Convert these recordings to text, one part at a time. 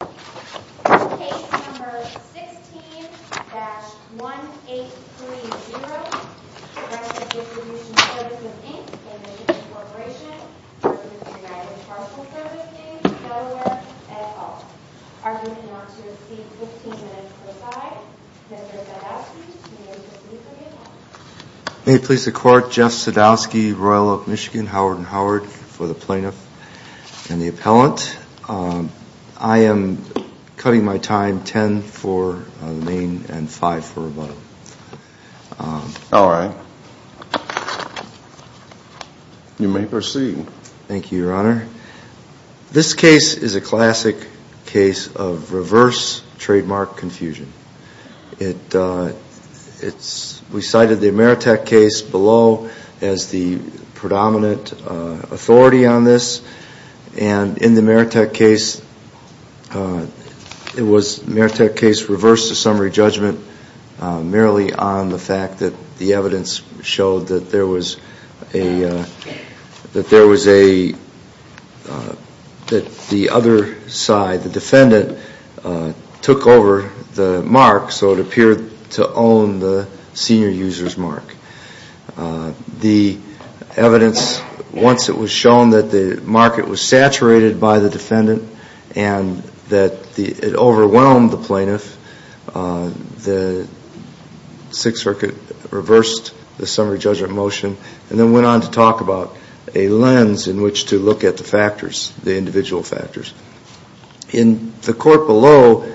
Case No. 16-1830, Representative Distribution Service of Inc. and Distribution Corporation, Representative United Parcel Service Inc., Delaware, et al. Are you going to want to receive 15 minutes per side? Mr. Sadowsky, you may proceed for the appellant. May it please the Court, Jeff Sadowski, Royal Oak, Michigan, Howard & Howard, for the plaintiff and the appellant. I am cutting my time 10 for the name and 5 for rebuttal. All right. You may proceed. Thank you, Your Honor. This case is a classic case of reverse trademark confusion. We cited the Maritec case below as the predominant authority on this. And in the Maritec case, it was Maritec case reversed to summary judgment merely on the fact that the evidence showed that there was a, that the other side, the defendant, took over the mark so it appeared to own the senior user's mark. The evidence, once it was shown that the mark, it was saturated by the defendant and that it overwhelmed the plaintiff, the Sixth Circuit reversed the summary judgment motion and then went on to talk about a lens in which to look at the factors, the individual factors. In the court below,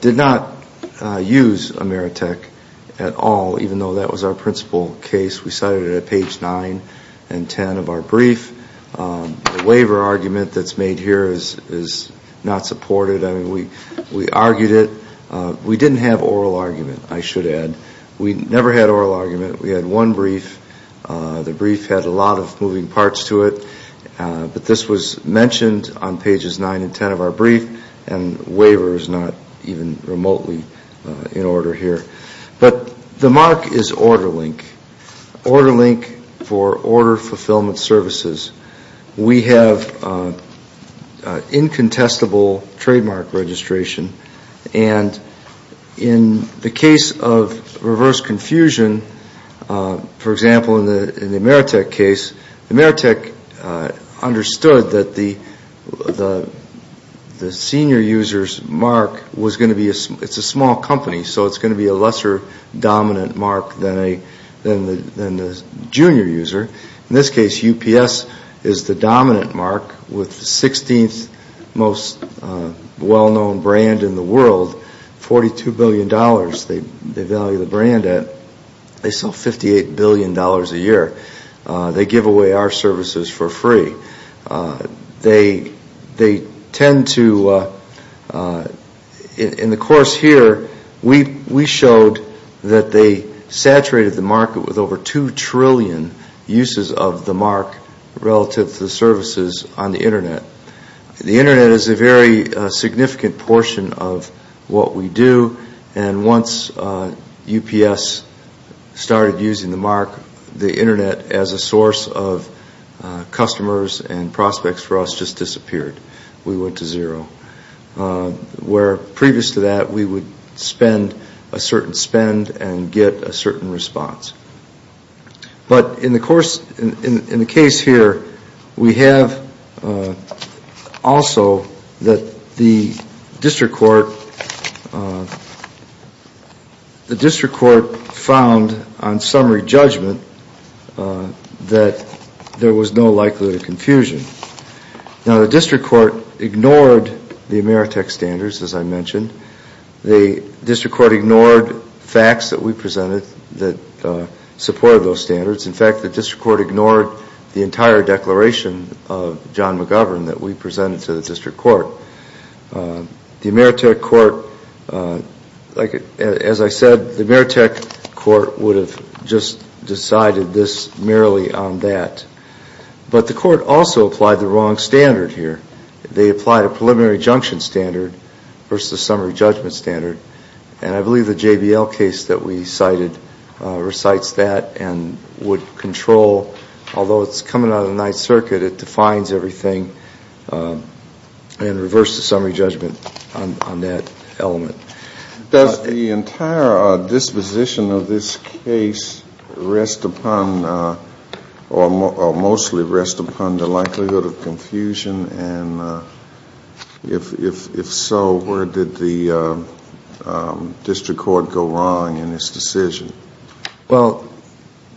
did not use a Maritec at all, even though that was our principal case. We cited it at page 9 and 10 of our brief. The waiver argument that's made here is not supported. I mean, we argued it. We didn't have oral argument, I should add. We never had oral argument. We had one brief. The brief had a lot of moving parts to it. But this was mentioned on pages 9 and 10 of our brief and waiver is not even remotely in order here. But the mark is order link. Order link for order fulfillment services. We have incontestable trademark registration. And in the case of reverse confusion, for example, in the Maritec case, Maritec understood that the senior user's mark was going to be, it's a small company, so it's going to be a lesser dominant mark than the junior user. In this case, UPS is the dominant mark with 16th most well-known brand in the world, $42 billion they value the brand at. They sell $58 billion a year. They give away our services for free. They tend to, in the course here, we showed that they saturated the market with over 2 trillion uses of the mark relative to the services on the Internet. The Internet is a very significant portion of what we do. And once UPS started using the mark, the Internet as a source of customers and prospects for us just disappeared. We went to zero. Where previous to that, we would spend a certain spend and get a certain response. But in the case here, we have also that the district court found on summary judgment that there was no likelihood of confusion. Now, the district court ignored the Maritec standards, as I mentioned. The district court ignored facts that we presented that supported those standards. In fact, the district court ignored the entire declaration of John McGovern that we presented to the district court. The Maritec court, as I said, the Maritec court would have just decided this merely on that. But the court also applied the wrong standard here. They applied a preliminary junction standard versus summary judgment standard. And I believe the JBL case that we cited recites that and would control, although it's coming out of the Ninth Circuit, it defines everything in reverse to summary judgment on that element. Does the entire disposition of this case rest upon or mostly rest upon the likelihood of confusion? And if so, where did the district court go wrong in its decision? Well,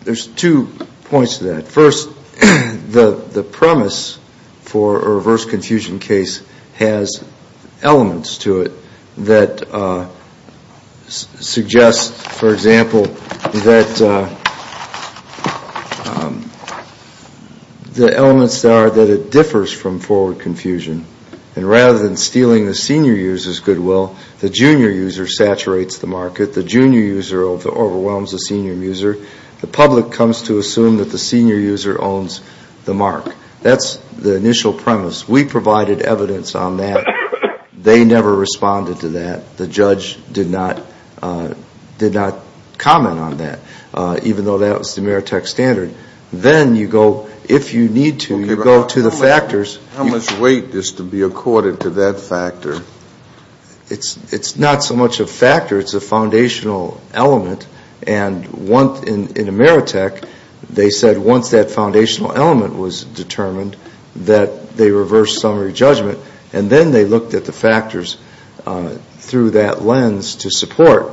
there's two points to that. First, the premise for a reverse confusion case has elements to it that suggest, for example, that the elements are that it differs from forward confusion. And rather than stealing the senior user's goodwill, the junior user saturates the market. The junior user overwhelms the senior user. The public comes to assume that the senior user owns the mark. That's the initial premise. We provided evidence on that. They never responded to that. The judge did not comment on that, even though that was the Maritec standard. Then you go, if you need to, you go to the factors. How much weight is to be accorded to that factor? It's not so much a factor. It's a foundational element. And in the Maritec, they said once that foundational element was determined, that they reversed summary judgment. And then they looked at the factors through that lens to support.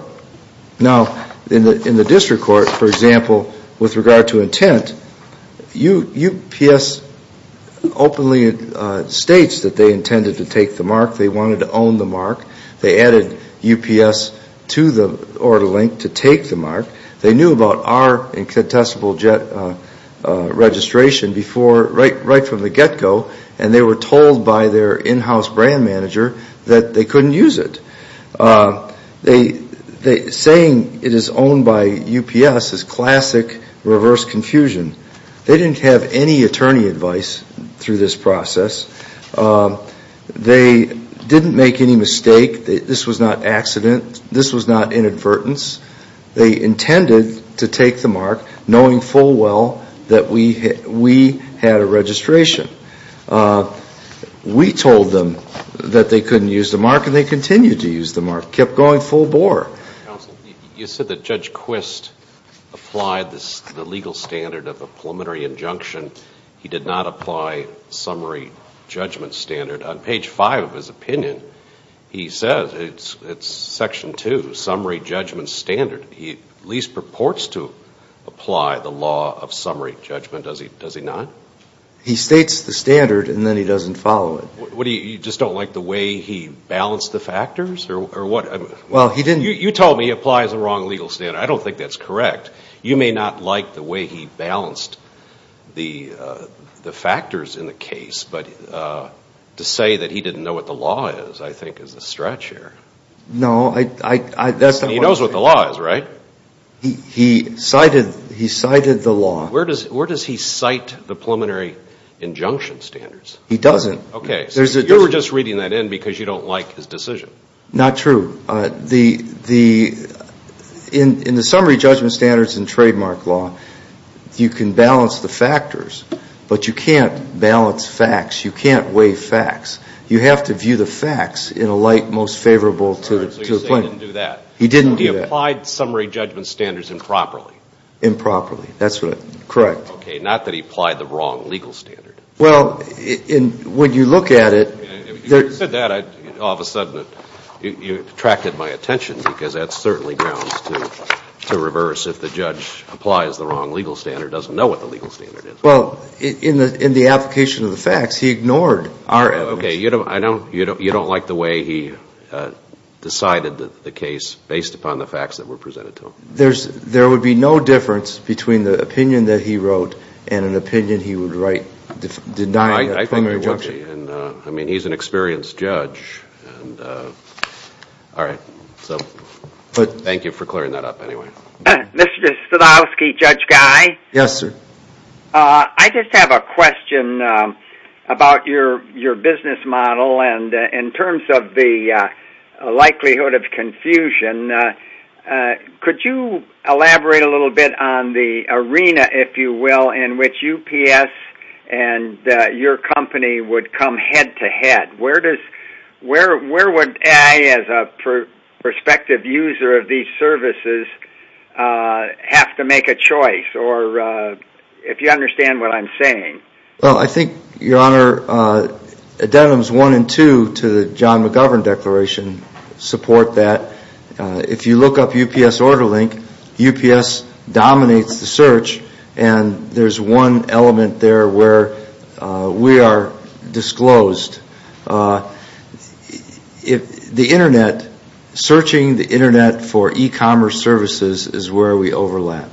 Now, in the district court, for example, with regard to intent, UPS openly states that they intended to take the mark. They wanted to own the mark. They added UPS to the order link to take the mark. They knew about our incontestable registration right from the get-go, and they were told by their in-house brand manager that they couldn't use it. Saying it is owned by UPS is classic reverse confusion. They didn't have any attorney advice through this process. They didn't make any mistake. This was not accident. This was not inadvertence. They intended to take the mark, knowing full well that we had a registration. We told them that they couldn't use the mark, and they continued to use the mark, kept going full bore. Counsel, you said that Judge Quist applied the legal standard of a preliminary injunction. He did not apply summary judgment standard. On page 5 of his opinion, he says, it's section 2, summary judgment standard. He at least purports to apply the law of summary judgment, does he not? He states the standard, and then he doesn't follow it. You just don't like the way he balanced the factors, or what? Well, he didn't. You told me he applies the wrong legal standard. I don't think that's correct. You may not like the way he balanced the factors in the case, but to say that he didn't know what the law is, I think, is a stretch here. No. He knows what the law is, right? He cited the law. Where does he cite the preliminary injunction standards? He doesn't. Okay. You were just reading that in because you don't like his decision. Not true. In the summary judgment standards in trademark law, you can balance the factors, but you can't balance facts. You can't weigh facts. You have to view the facts in a light most favorable to the plaintiff. So you're saying he didn't do that. He didn't do that. He applied summary judgment standards improperly. Improperly. That's correct. Okay. Not that he applied the wrong legal standard. Well, when you look at it. You said that, all of a sudden, you attracted my attention, because that certainly grounds to reverse if the judge applies the wrong legal standard, doesn't know what the legal standard is. Well, in the application of the facts, he ignored our evidence. Okay. You don't like the way he decided the case based upon the facts that were presented to him. There would be no difference between the opinion that he wrote and an opinion he would write denying a preliminary injunction. I mean, he's an experienced judge. All right. Thank you for clearing that up, anyway. Mr. Stachowski, Judge Guy. Yes, sir. I just have a question about your business model, and in terms of the likelihood of confusion, could you elaborate a little bit on the arena, if you will, in which UPS and your company would come head-to-head? Where would I, as a prospective user of these services, have to make a choice? Or if you understand what I'm saying. Well, I think, Your Honor, Addendums 1 and 2 to the John McGovern Declaration support that if you look up UPS Order Link, UPS dominates the search, and there's one element there where we are disclosed. The Internet, searching the Internet for e-commerce services is where we overlap.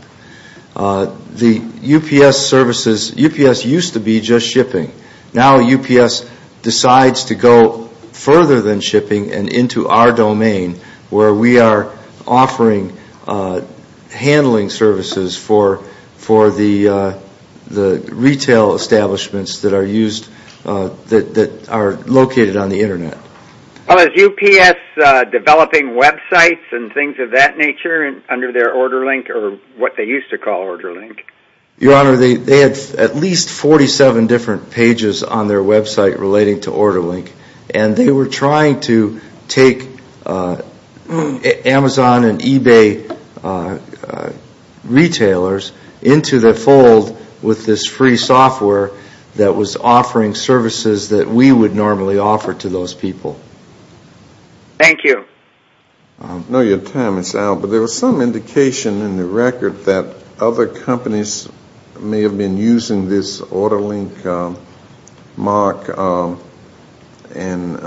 The UPS services, UPS used to be just shipping. Now UPS decides to go further than shipping and into our domain where we are offering handling services for the retail establishments that are used, that are located on the Internet. Is UPS developing websites and things of that nature under their Order Link, or what they used to call Order Link? Your Honor, they have at least 47 different pages on their website relating to Order Link, and they were trying to take Amazon and eBay retailers into the fold with this free software that was offering services that we would normally offer to those people. Thank you. I know your time is out, but there was some indication in the record that other companies may have been using this Order Link mark, and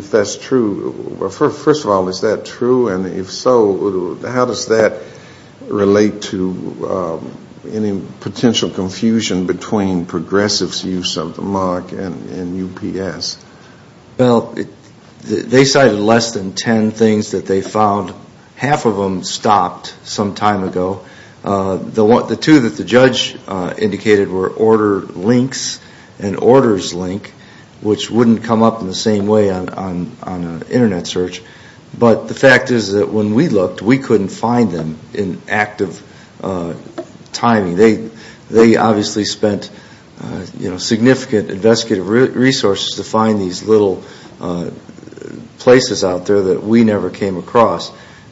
if that's true. First of all, is that true? And if so, how does that relate to any potential confusion between Progressive's use of the mark and UPS? Well, they cited less than 10 things that they found. Half of them stopped some time ago. The two that the judge indicated were Order Links and Orders Link, which wouldn't come up in the same way on an Internet search. But the fact is that when we looked, we couldn't find them in active timing. They obviously spent significant investigative resources to find these little places out there that we never came across.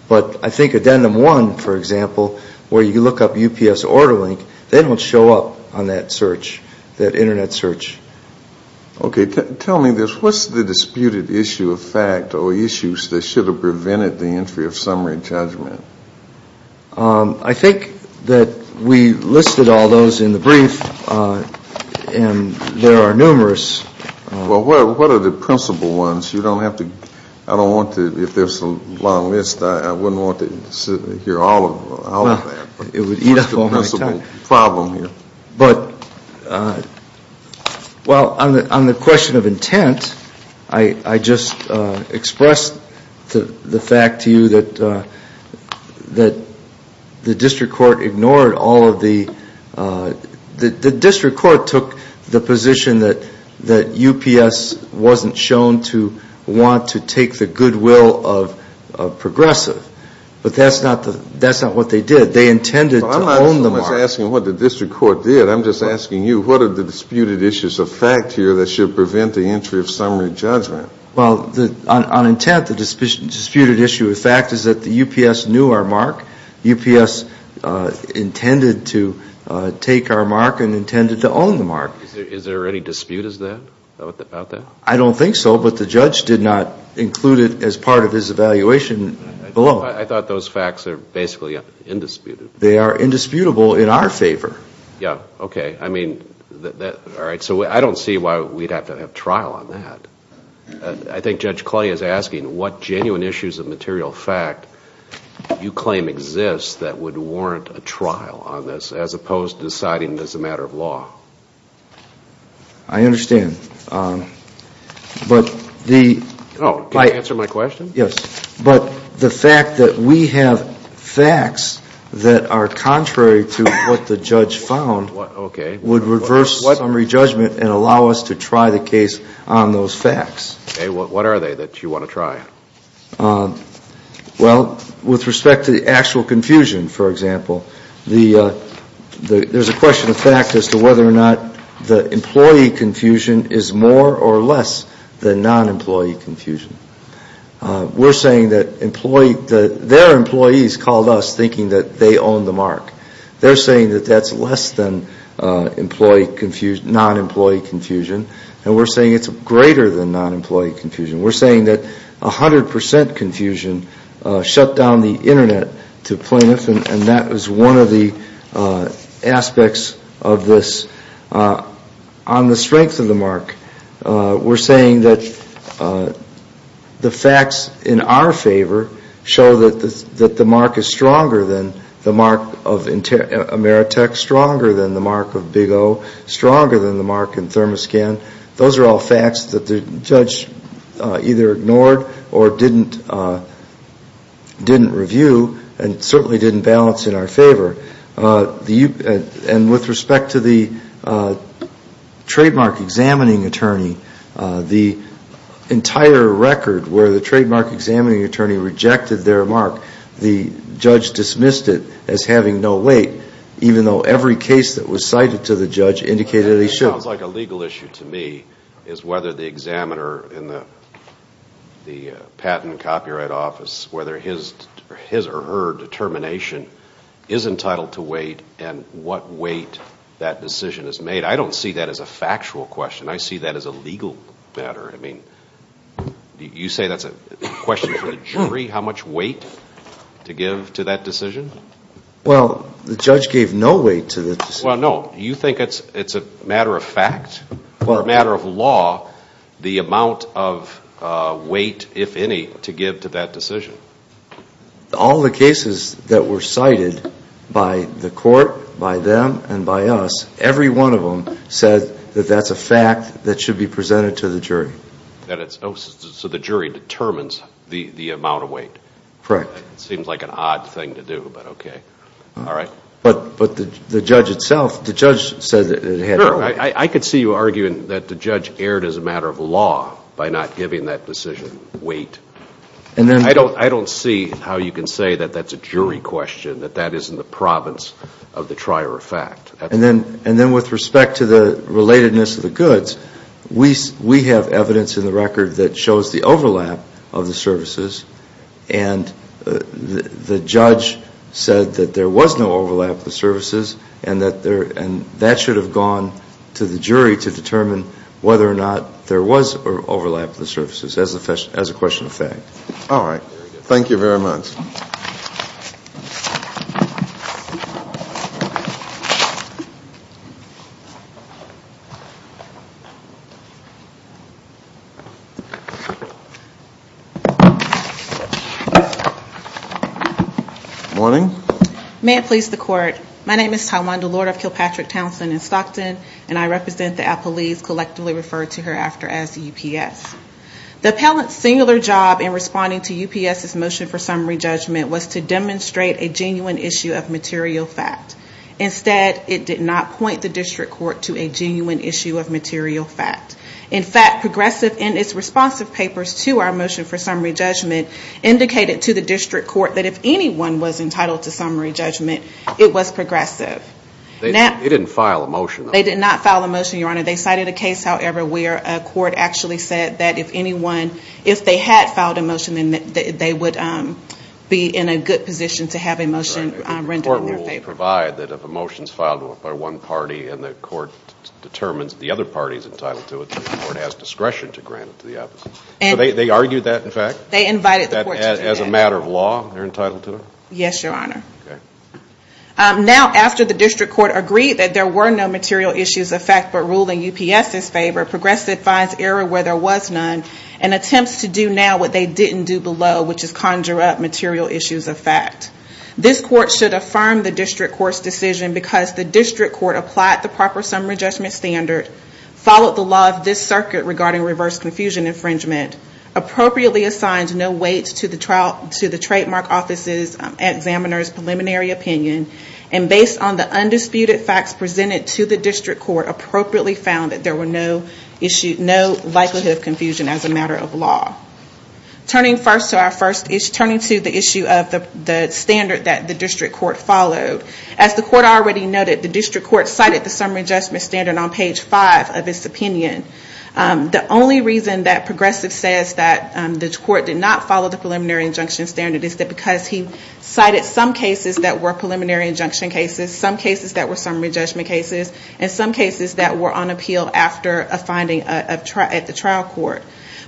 But I think Addendum 1, for example, where you look up UPS Order Link, they don't show up on that search, that Internet search. Okay. Tell me this. What's the disputed issue of fact or issues that should have prevented the entry of summary judgment? I think that we listed all those in the brief, and there are numerous. Well, what are the principal ones? You don't have to – I don't want to – if there's a long list, I wouldn't want to hear all of that. It would eat up all my time. What's the principal problem here? Well, on the question of intent, I just expressed the fact to you that the district court ignored all of the – the district court took the position that UPS wasn't shown to want to take the goodwill of progressive. But that's not what they did. They intended to own the market. I'm not asking what the district court did. I'm just asking you, what are the disputed issues of fact here that should prevent the entry of summary judgment? Well, on intent, the disputed issue of fact is that the UPS knew our mark. UPS intended to take our mark and intended to own the mark. Is there any dispute about that? I don't think so, but the judge did not include it as part of his evaluation below. I thought those facts are basically indisputable. They are indisputable in our favor. Yeah, okay. I mean, all right, so I don't see why we'd have to have trial on that. I think Judge Clay is asking what genuine issues of material fact you claim exists that would warrant a trial on this, as opposed to deciding it as a matter of law. I understand. But the – Oh, can you answer my question? Yes. But the fact that we have facts that are contrary to what the judge found would reverse summary judgment and allow us to try the case on those facts. Okay, what are they that you want to try? Well, with respect to the actual confusion, for example, there's a question of fact as to whether or not the employee confusion is more or less than non-employee confusion. We're saying that their employees called us thinking that they own the mark. They're saying that that's less than non-employee confusion, and we're saying it's greater than non-employee confusion. We're saying that 100 percent confusion shut down the Internet to plaintiffs, and that is one of the aspects of this. On the strength of the mark, we're saying that the facts in our favor show that the mark is stronger than the mark of Ameritech, stronger than the mark of Big O, stronger than the mark in Thermoscan. Those are all facts that the judge either ignored or didn't review and certainly didn't balance in our favor. And with respect to the trademark examining attorney, the entire record where the trademark examining attorney rejected their mark, the judge dismissed it as having no weight, even though every case that was cited to the judge indicated it should. It sounds like a legal issue to me is whether the examiner in the patent and copyright office, whether his or her determination is entitled to weight and what weight that decision is made. I don't see that as a factual question. I see that as a legal matter. I mean, you say that's a question for the jury, how much weight to give to that decision? Well, the judge gave no weight to the decision. Well, no. Do you think it's a matter of fact or a matter of law, the amount of weight, if any, to give to that decision? All the cases that were cited by the court, by them and by us, every one of them said that that's a fact that should be presented to the jury. So the jury determines the amount of weight. Correct. It seems like an odd thing to do, but okay. All right. But the judge itself, the judge said that it had no weight. I could see you arguing that the judge erred as a matter of law by not giving that decision weight. I don't see how you can say that that's a jury question, that that isn't the province of the trier of fact. And then with respect to the relatedness of the goods, we have evidence in the record that shows the overlap of the services, and the judge said that there was no overlap of the services, and that should have gone to the jury to determine whether or not there was overlap of the services as a question of fact. All right. Thank you very much. Morning. May it please the court. My name is Tywanda Lord of Kilpatrick Townsend in Stockton, and I represent the appellees collectively referred to hereafter as UPS. The appellant's singular job in responding to UPS's motion for summary judgment was to demonstrate a genuine issue of material fact. Instead, it did not point the district court to a genuine issue of material fact. In fact, progressive in its responsive papers to our motion for summary judgment indicated to the district court that if anyone was entitled to summary judgment, it was progressive. They didn't file a motion, though. They did not file a motion, Your Honor. They cited a case, however, where a court actually said that if anyone, if they had filed a motion, then they would be in a good position to have a motion rendered in their favor. They provide that if a motion is filed by one party and the court determines the other party is entitled to it, the court has discretion to grant it to the opposite. So they argued that, in fact? They invited the court to do that. As a matter of law, they're entitled to it? Yes, Your Honor. Okay. Now, after the district court agreed that there were no material issues of fact but ruled in UPS's favor, progressive finds error where there was none and attempts to do now what they didn't do below, which is conjure up material issues of fact. This court should affirm the district court's decision because the district court applied the proper summary judgment standard, followed the law of this circuit regarding reverse confusion infringement, appropriately assigned no weight to the trademark office's examiner's preliminary opinion, and based on the undisputed facts presented to the district court, appropriately found that there were no likelihood of confusion as a matter of law. Turning to the issue of the standard that the district court followed, as the court already noted, the district court cited the summary judgment standard on page 5 of its opinion. The only reason that progressive says that the court did not follow the preliminary injunction standard is that because he cited some cases that were preliminary injunction cases, some cases that were summary judgment cases, and some cases that were on appeal after a finding at the trial court.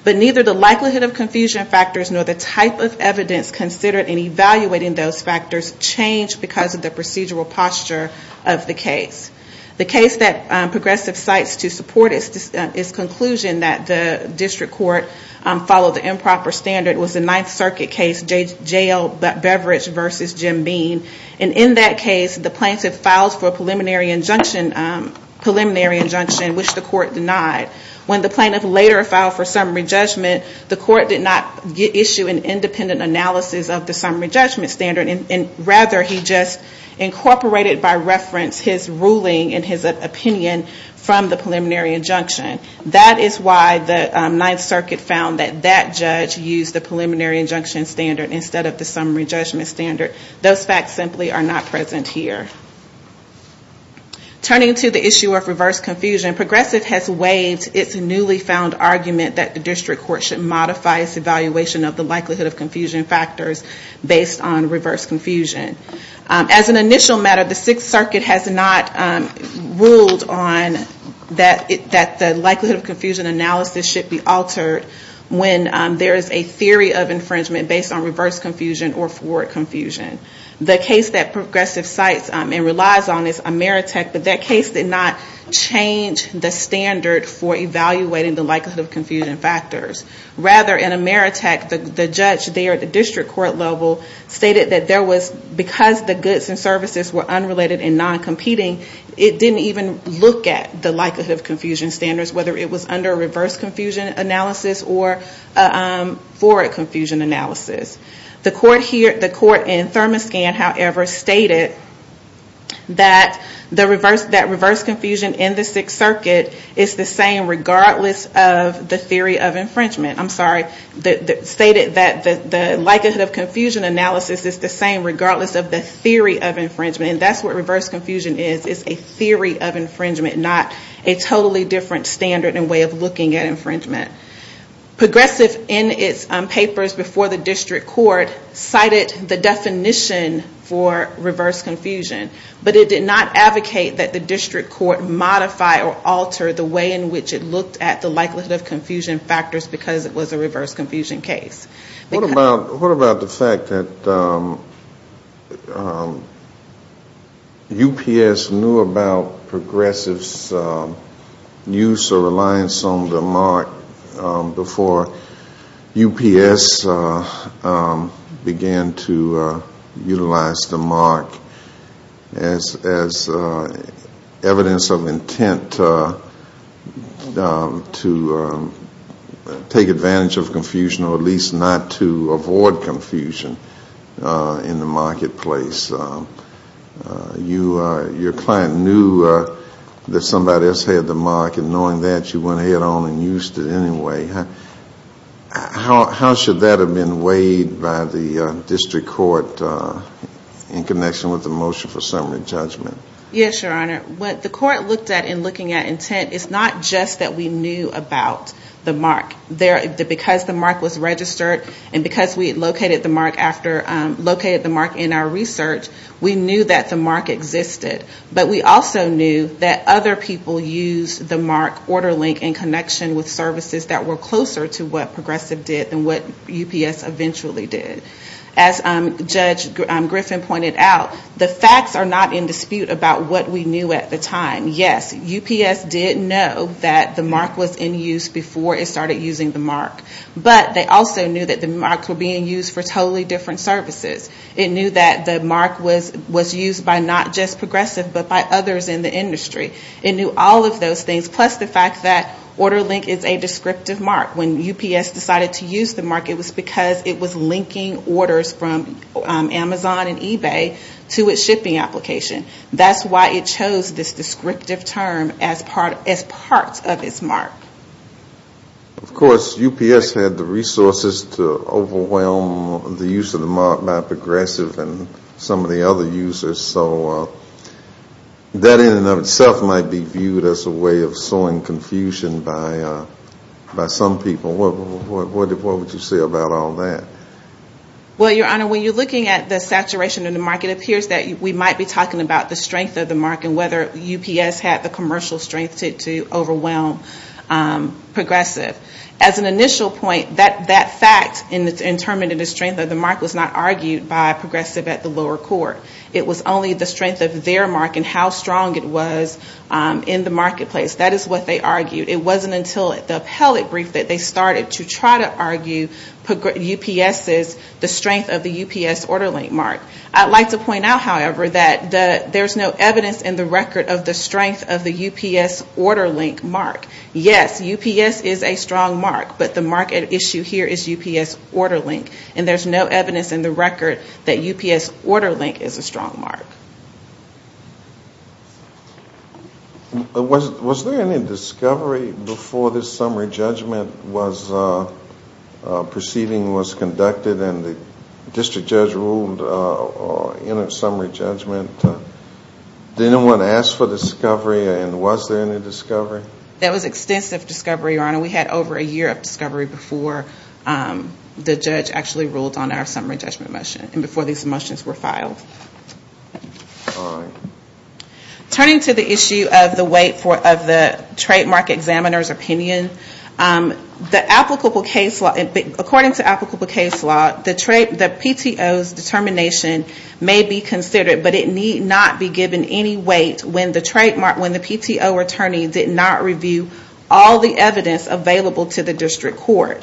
But neither the likelihood of confusion factors nor the type of evidence considered in evaluating those factors changed because of the procedural posture of the case. The case that progressive cites to support its conclusion that the district court followed the improper standard was the Ninth Circuit case, J.L. Beveridge v. Jim Bean. And in that case, the plaintiff filed for a preliminary injunction which the court denied. When the plaintiff later filed for summary judgment, the court did not issue an independent analysis of the summary judgment standard. Rather, he just incorporated by reference his ruling and his opinion from the preliminary injunction. That is why the Ninth Circuit found that that judge used the preliminary injunction standard instead of the summary judgment standard. Those facts simply are not present here. Turning to the issue of reverse confusion, progressive has waived its newly found argument that the district court should modify its evaluation of the likelihood of confusion factors based on reverse confusion. As an initial matter, the Sixth Circuit has not ruled on that the likelihood of confusion analysis should be altered when there is a theory of infringement based on reverse confusion or forward confusion. The case that progressive cites and relies on is Ameritech, but that case did not change the standard for evaluating the likelihood of confusion factors. Rather, in Ameritech, the judge there at the district court level stated that there was, because the goods and services were unrelated and non-competing, it didn't even look at the likelihood of confusion standards, whether it was under a reverse confusion analysis or a forward confusion analysis. The court in Thermoscan, however, stated that reverse confusion in the Sixth Circuit is the same regardless of the theory of infringement. I'm sorry. It stated that the likelihood of confusion analysis is the same regardless of the theory of infringement. That's what reverse confusion is. It's a theory of infringement, not a totally different standard and way of looking at infringement. Progressive in its papers before the district court cited the definition for reverse confusion, but it did not advocate that the district court modify or alter the way in which it looked at the likelihood of confusion factors because it was a reverse confusion case. What about the fact that UPS knew about Progressive's use or reliance on the mark before UPS began to utilize the mark as evidence of intent to take advantage of confusion or at least not to avoid confusion in the marketplace? Your client knew that somebody else had the mark, and knowing that, you went ahead on and used it anyway. How should that have been weighed by the district court in connection with the motion for summary judgment? Yes, Your Honor. What the court looked at in looking at intent is not just that we knew about the mark. Because the mark was registered and because we located the mark in our research, we knew that the mark existed. But we also knew that other people used the mark order link in connection with services that were closer to what Progressive did than what UPS eventually did. As Judge Griffin pointed out, the facts are not in dispute about what we knew at the time. Yes, UPS did know that the mark was in use before it started using the mark. But they also knew that the marks were being used for totally different services. It knew that the mark was used by not just Progressive, but by others in the industry. It knew all of those things, plus the fact that order link is a descriptive mark. When UPS decided to use the mark, it was because it was linking orders from Amazon and eBay to its shipping application. That's why it chose this descriptive term as part of its mark. Of course, UPS had the resources to overwhelm the use of the mark by Progressive and some of the other users. So that in and of itself might be viewed as a way of sowing confusion by some people. What would you say about all that? When you're looking at the saturation of the mark, it appears that we might be talking about the strength of the mark and whether UPS had the commercial strength to overwhelm Progressive. As an initial point, that fact in determining the strength of the mark was not argued by Progressive at the lower court. It was only the strength of their mark and how strong it was in the marketplace. That is what they argued. It wasn't until the appellate brief that they started to try to argue UPS's strength of the UPS order link mark. I'd like to point out, however, that there's no evidence in the record of the strength of the UPS order link mark. Yes, UPS is a strong mark, but the mark at issue here is UPS order link. And there's no evidence in the record that UPS order link is a strong mark. Was there any discovery before this summary judgment proceeding was conducted and the district judge ruled in a summary judgment? Did anyone ask for discovery and was there any discovery? There was extensive discovery, Your Honor. We had over a year of discovery before the judge actually ruled on our summary judgment motion and before these motions were filed. All right. Turning to the issue of the weight of the trademark examiner's opinion, according to applicable case law, the PTO's determination may be considered, but it need not be given any weight when the PTO attorney did not review all the evidence available to the district court.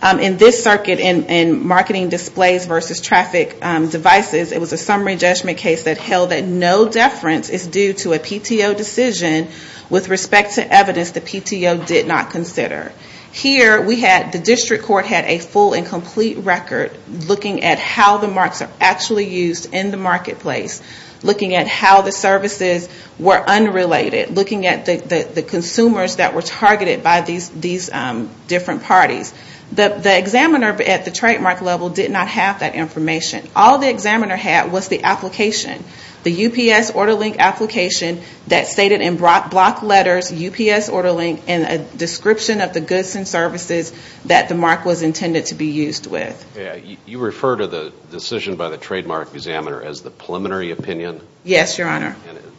In this circuit, in marketing displays versus traffic devices, it was a summary judgment case that held that no deference is due to a PTO decision with respect to evidence the PTO did not consider. Here, the district court had a full and complete record looking at how the marks are actually used in the marketplace, looking at how the services were unrelated, looking at the consumers that were targeted by these different parties. The examiner at the trademark level did not have that information. All the examiner had was the application, the UPS order link application that stated in block letters UPS order link and a description of the goods and services that the mark was intended to be used with. You refer to the decision by the trademark examiner as the preliminary opinion? Yes, Your Honor.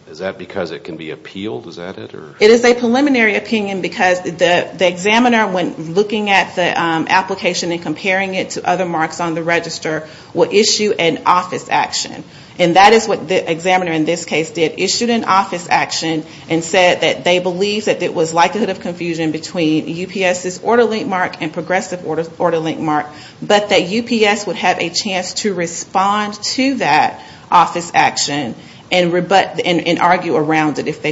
Is that because it can be appealed? It is a preliminary opinion because the examiner, when looking at the application and comparing it to other marks on the register, will issue an office action. And that is what the examiner in this case did. Issued an office action and said that they believed that there was likelihood of confusion between UPS's order link mark and progressive order link mark, but that UPS would have a chance to respond to that office action and argue around it if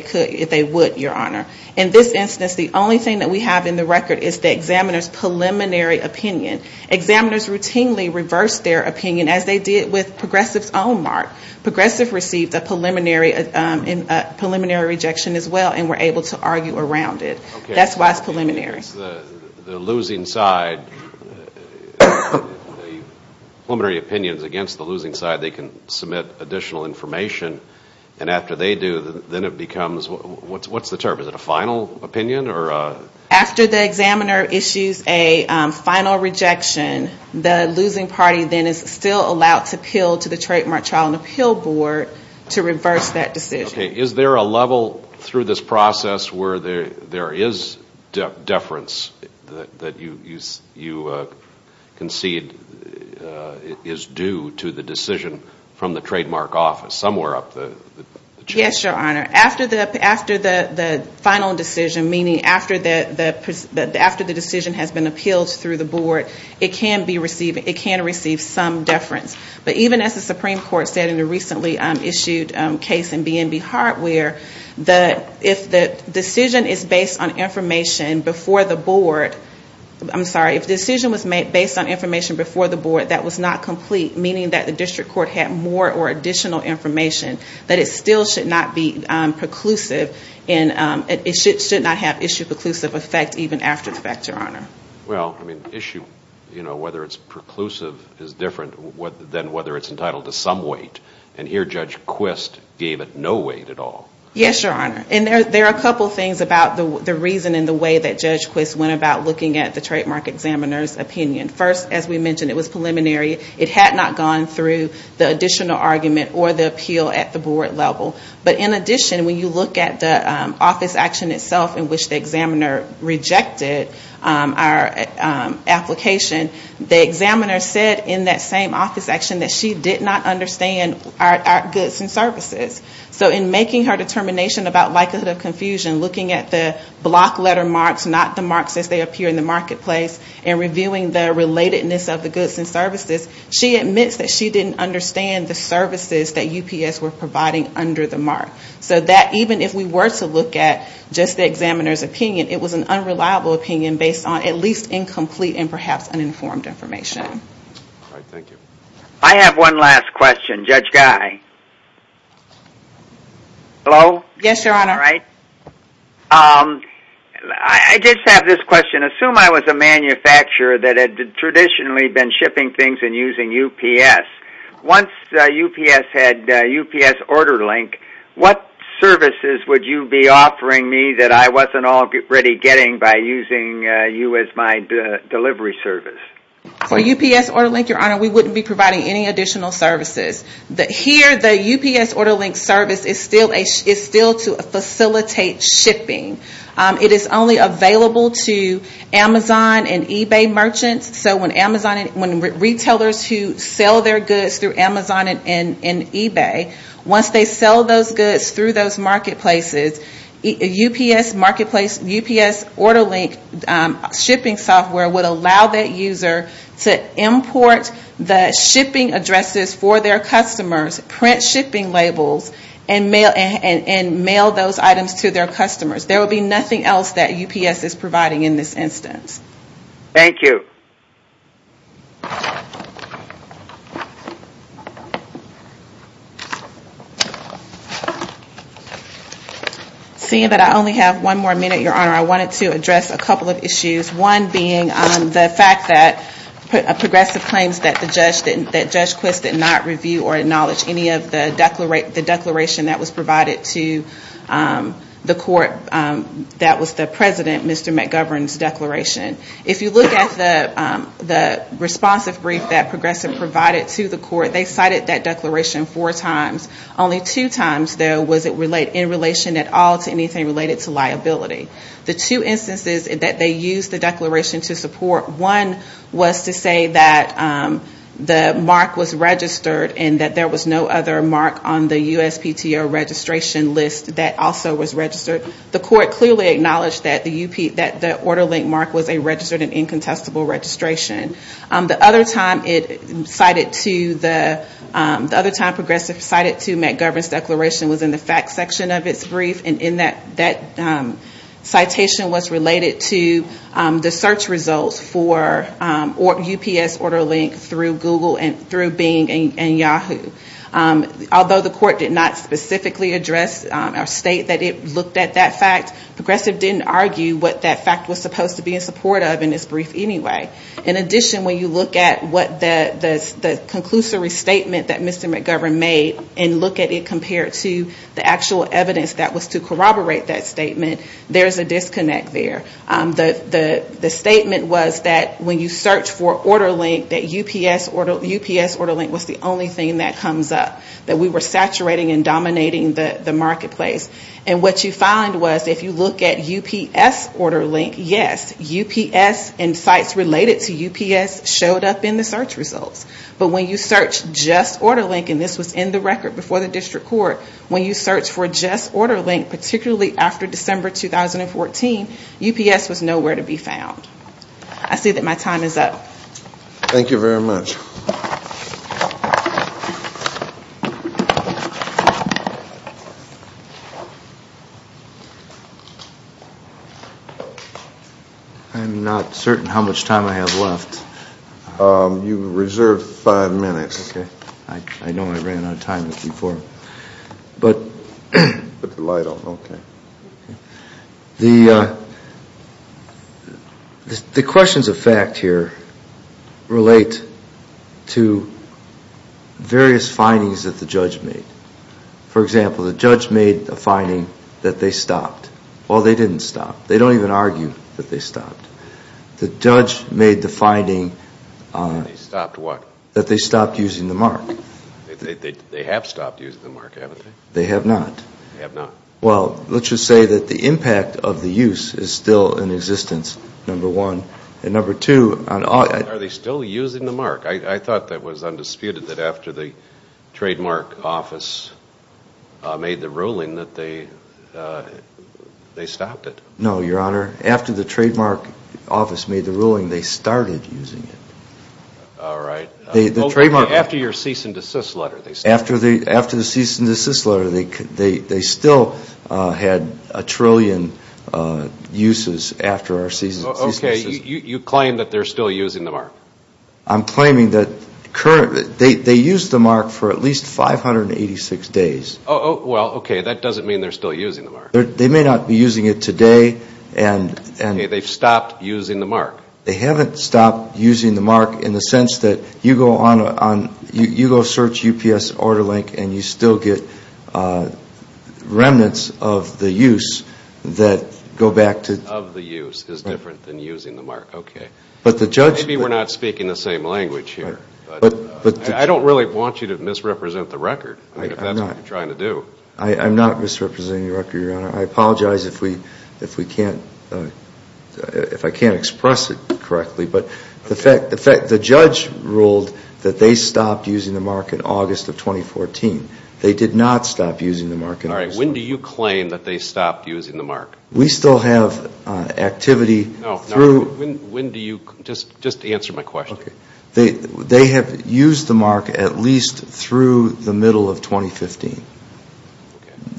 they would, Your Honor. In this instance, the only thing that we have in the record is the examiner's preliminary opinion. Examiners routinely reversed their opinion as they did with progressive's own mark. Progressive received a preliminary rejection as well and were able to argue around it. That's why it's preliminary. The losing side, the preliminary opinion is against the losing side. They can submit additional information. And after they do, then it becomes, what's the term? Is it a final opinion? After the examiner issues a final rejection, the losing party then is still allowed to appeal to the Trademark Child and Appeal Board to reverse that decision. Okay. Is there a level through this process where there is deference that you concede is due to the decision from the Trademark Office somewhere up the chain? Yes, Your Honor. After the final decision, meaning after the decision has been appealed through the board, it can receive some deference. But even as the Supreme Court said in a recently issued case in BNB Hart where if the decision is based on information before the board, I'm sorry, if the decision was based on information before the board that was not complete, meaning that the district court had more or additional information, that it still should not be preclusive and it should not have issue-preclusive effect even after the fact, Your Honor. Well, I mean issue, you know, whether it's preclusive is different than whether it's entitled to some weight. And here Judge Quist gave it no weight at all. Yes, Your Honor. And there are a couple things about the reason and the way that Judge Quist went about looking at the Trademark Examiner's opinion. First, as we mentioned, it was preliminary. It had not gone through the additional argument or the appeal at the board level. But in addition, when you look at the office action itself in which the examiner rejected, our application, the examiner said in that same office action that she did not understand our goods and services. So in making her determination about likelihood of confusion, looking at the block letter marks, not the marks as they appear in the marketplace, and reviewing the relatedness of the goods and services, she admits that she didn't understand the services that UPS were providing under the mark. So that even if we were to look at just the examiner's opinion, it was an unreliable opinion based on at least incomplete and perhaps uninformed information. All right. Thank you. I have one last question. Judge Guy. Hello? Yes, Your Honor. All right. I just have this question. Assume I was a manufacturer that had traditionally been shipping things and using UPS. Once UPS had UPS Order Link, what services would you be offering me that I wasn't already getting by using you as my delivery service? So UPS Order Link, Your Honor, we wouldn't be providing any additional services. Here, the UPS Order Link service is still to facilitate shipping. It is only available to Amazon and eBay merchants. So when retailers who sell their goods through Amazon and eBay, once they sell those goods through those marketplaces, UPS Order Link shipping software would allow that user to import the shipping addresses for their customers, print shipping labels, and mail those items to their customers. There would be nothing else that UPS is providing in this instance. Thank you. Seeing that I only have one more minute, Your Honor, I wanted to address a couple of issues. One being the fact that progressive claims that Judge Quist did not review or acknowledge any of the declaration that was provided to the court that was the President, Mr. McGovern's declaration. If you look at the responsive brief that progressive provided to the court, they cited that declaration four times. Only two times, though, was it in relation at all to anything related to liability. The two instances that they used the declaration to support, one was to say that the mark was registered and that there was no other mark on the USPTO registration list that also was registered. The court clearly acknowledged that the Order Link mark was a registered and incontestable registration. The other time progressive cited to McGovern's declaration was in the facts section of its brief, and that citation was related to the search results for UPS Order Link through Bing and Yahoo. Although the court did not specifically address or state that it looked at that fact, progressive didn't argue what that fact was supposed to be in support of in its brief anyway. In addition, when you look at the conclusory statement that Mr. McGovern made and look at it compared to the actual evidence that was to corroborate that statement, there is a disconnect there. The statement was that when you search for Order Link, that UPS Order Link was the only thing that comes up. That we were saturating and dominating the marketplace. And what you find was, if you look at UPS Order Link, yes, UPS and sites related to UPS showed up in the search results. But when you search just Order Link, and this was in the record before the district court, when you search for just Order Link, particularly after December 2014, UPS was nowhere to be found. I see that my time is up. Thank you very much. I'm not certain how much time I have left. You reserved five minutes. I know I ran out of time before. Put the light on. Okay. The questions of fact here relate to various findings that the judge made. For example, the judge made a finding that they stopped. Well, they didn't stop. They don't even argue that they stopped. The judge made the finding that they stopped using the mark. They have stopped using the mark, haven't they? They have not. They have not. Well, let's just say that the impact of the use is still in existence, number one. And number two, on all of it. Are they still using the mark? I thought that was undisputed that after the trademark office made the ruling that they stopped it. No, Your Honor. After the trademark office made the ruling, they started using it. All right. After your cease and desist letter, they stopped it. After the cease and desist letter, they still had a trillion uses after our cease and desist letter. Okay. You claim that they're still using the mark. I'm claiming that they used the mark for at least 586 days. Well, okay. That doesn't mean they're still using the mark. They may not be using it today. Okay. They've stopped using the mark. They haven't stopped using the mark in the sense that you go on, you go search UPS order link and you still get remnants of the use that go back to... Of the use is different than using the mark. Okay. But the judge... Maybe we're not speaking the same language here. But... I don't really want you to misrepresent the record. I'm not. If that's what you're trying to do. I'm not misrepresenting the record, Your Honor. I apologize if I can't express it correctly. But the judge ruled that they stopped using the mark in August of 2014. They did not stop using the mark in August. All right. When do you claim that they stopped using the mark? We still have activity through... No. When do you... Just answer my question. Okay. They have used the mark at least through the middle of 2015. Okay.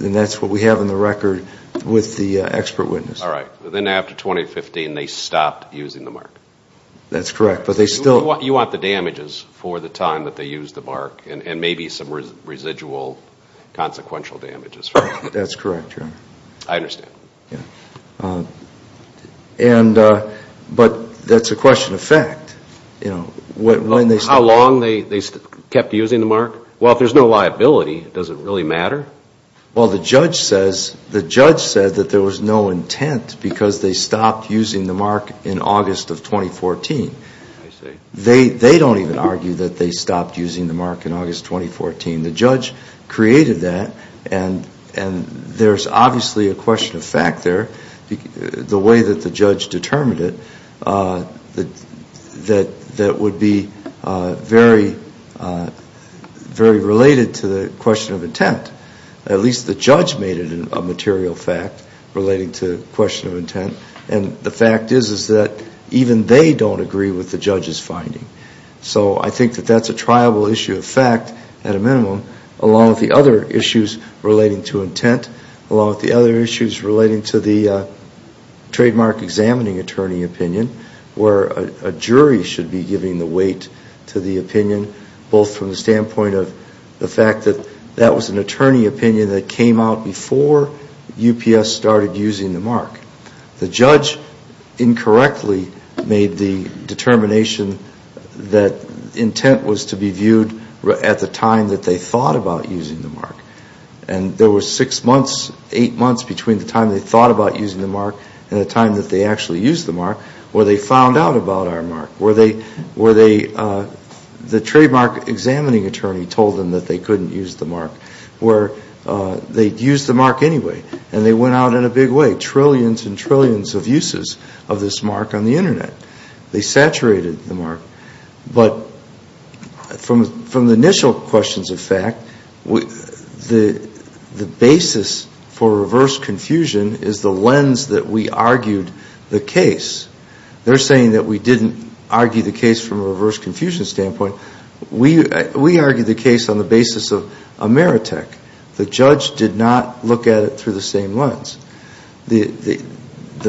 And that's what we have in the record with the expert witness. All right. Then after 2015 they stopped using the mark. That's correct. But they still... You want the damages for the time that they used the mark. And maybe some residual consequential damages. That's correct, Your Honor. I understand. Yeah. But that's a question of fact. How long they kept using the mark? Well, if there's no liability, does it really matter? Well, the judge says that there was no intent because they stopped using the mark in August of 2014. I see. They don't even argue that they stopped using the mark in August 2014. The judge created that. And there's obviously a question of fact there, the way that the judge determined it, that would be very related to the question of intent. At least the judge made it a material fact relating to the question of intent. And the fact is that even they don't agree with the judge's finding. So I think that that's a triable issue of fact at a minimum, along with the other issues relating to intent, along with the other issues relating to the trademark examining attorney opinion, where a jury should be giving the weight to the opinion, both from the standpoint of the fact that that was an attorney opinion that came out before UPS started using the mark. The judge incorrectly made the determination that intent was to be viewed at the time that they thought about using the mark. And there were six months, eight months between the time they thought about using the mark and the time that they actually used the mark where they found out about our mark, where the trademark examining attorney told them that they couldn't use the mark, where they'd use the mark anyway. And they went out in a big way, trillions and trillions of uses of this mark on the Internet. They saturated the mark. But from the initial questions of fact, the basis for reverse confusion is the lens that we argued the case. They're saying that we didn't argue the case from a reverse confusion standpoint. So we argued the case on the basis of Ameritech. The judge did not look at it through the same lens. The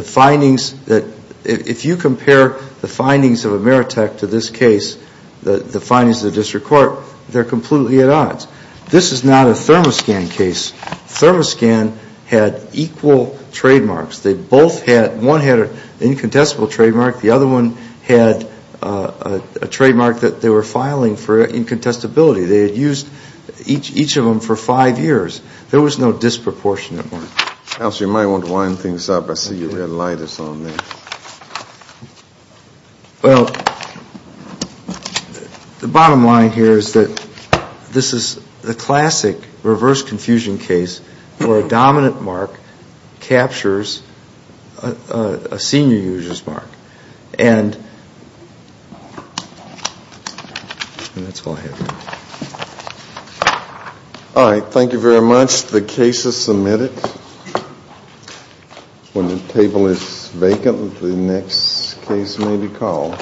findings that – if you compare the findings of Ameritech to this case, the findings of the district court, they're completely at odds. This is not a ThermoScan case. ThermoScan had equal trademarks. They both had – one had an incontestable trademark. The other one had a trademark that they were filing for incontestability. They had used each of them for five years. There was no disproportionate mark. Counsel, you might want to wind things up. I see your red light is on there. Well, the bottom line here is that this is the classic reverse confusion case where a dominant mark captures a senior user's mark. And that's all I have. All right. Thank you very much. The case is submitted. When the table is vacant, the next case may be called.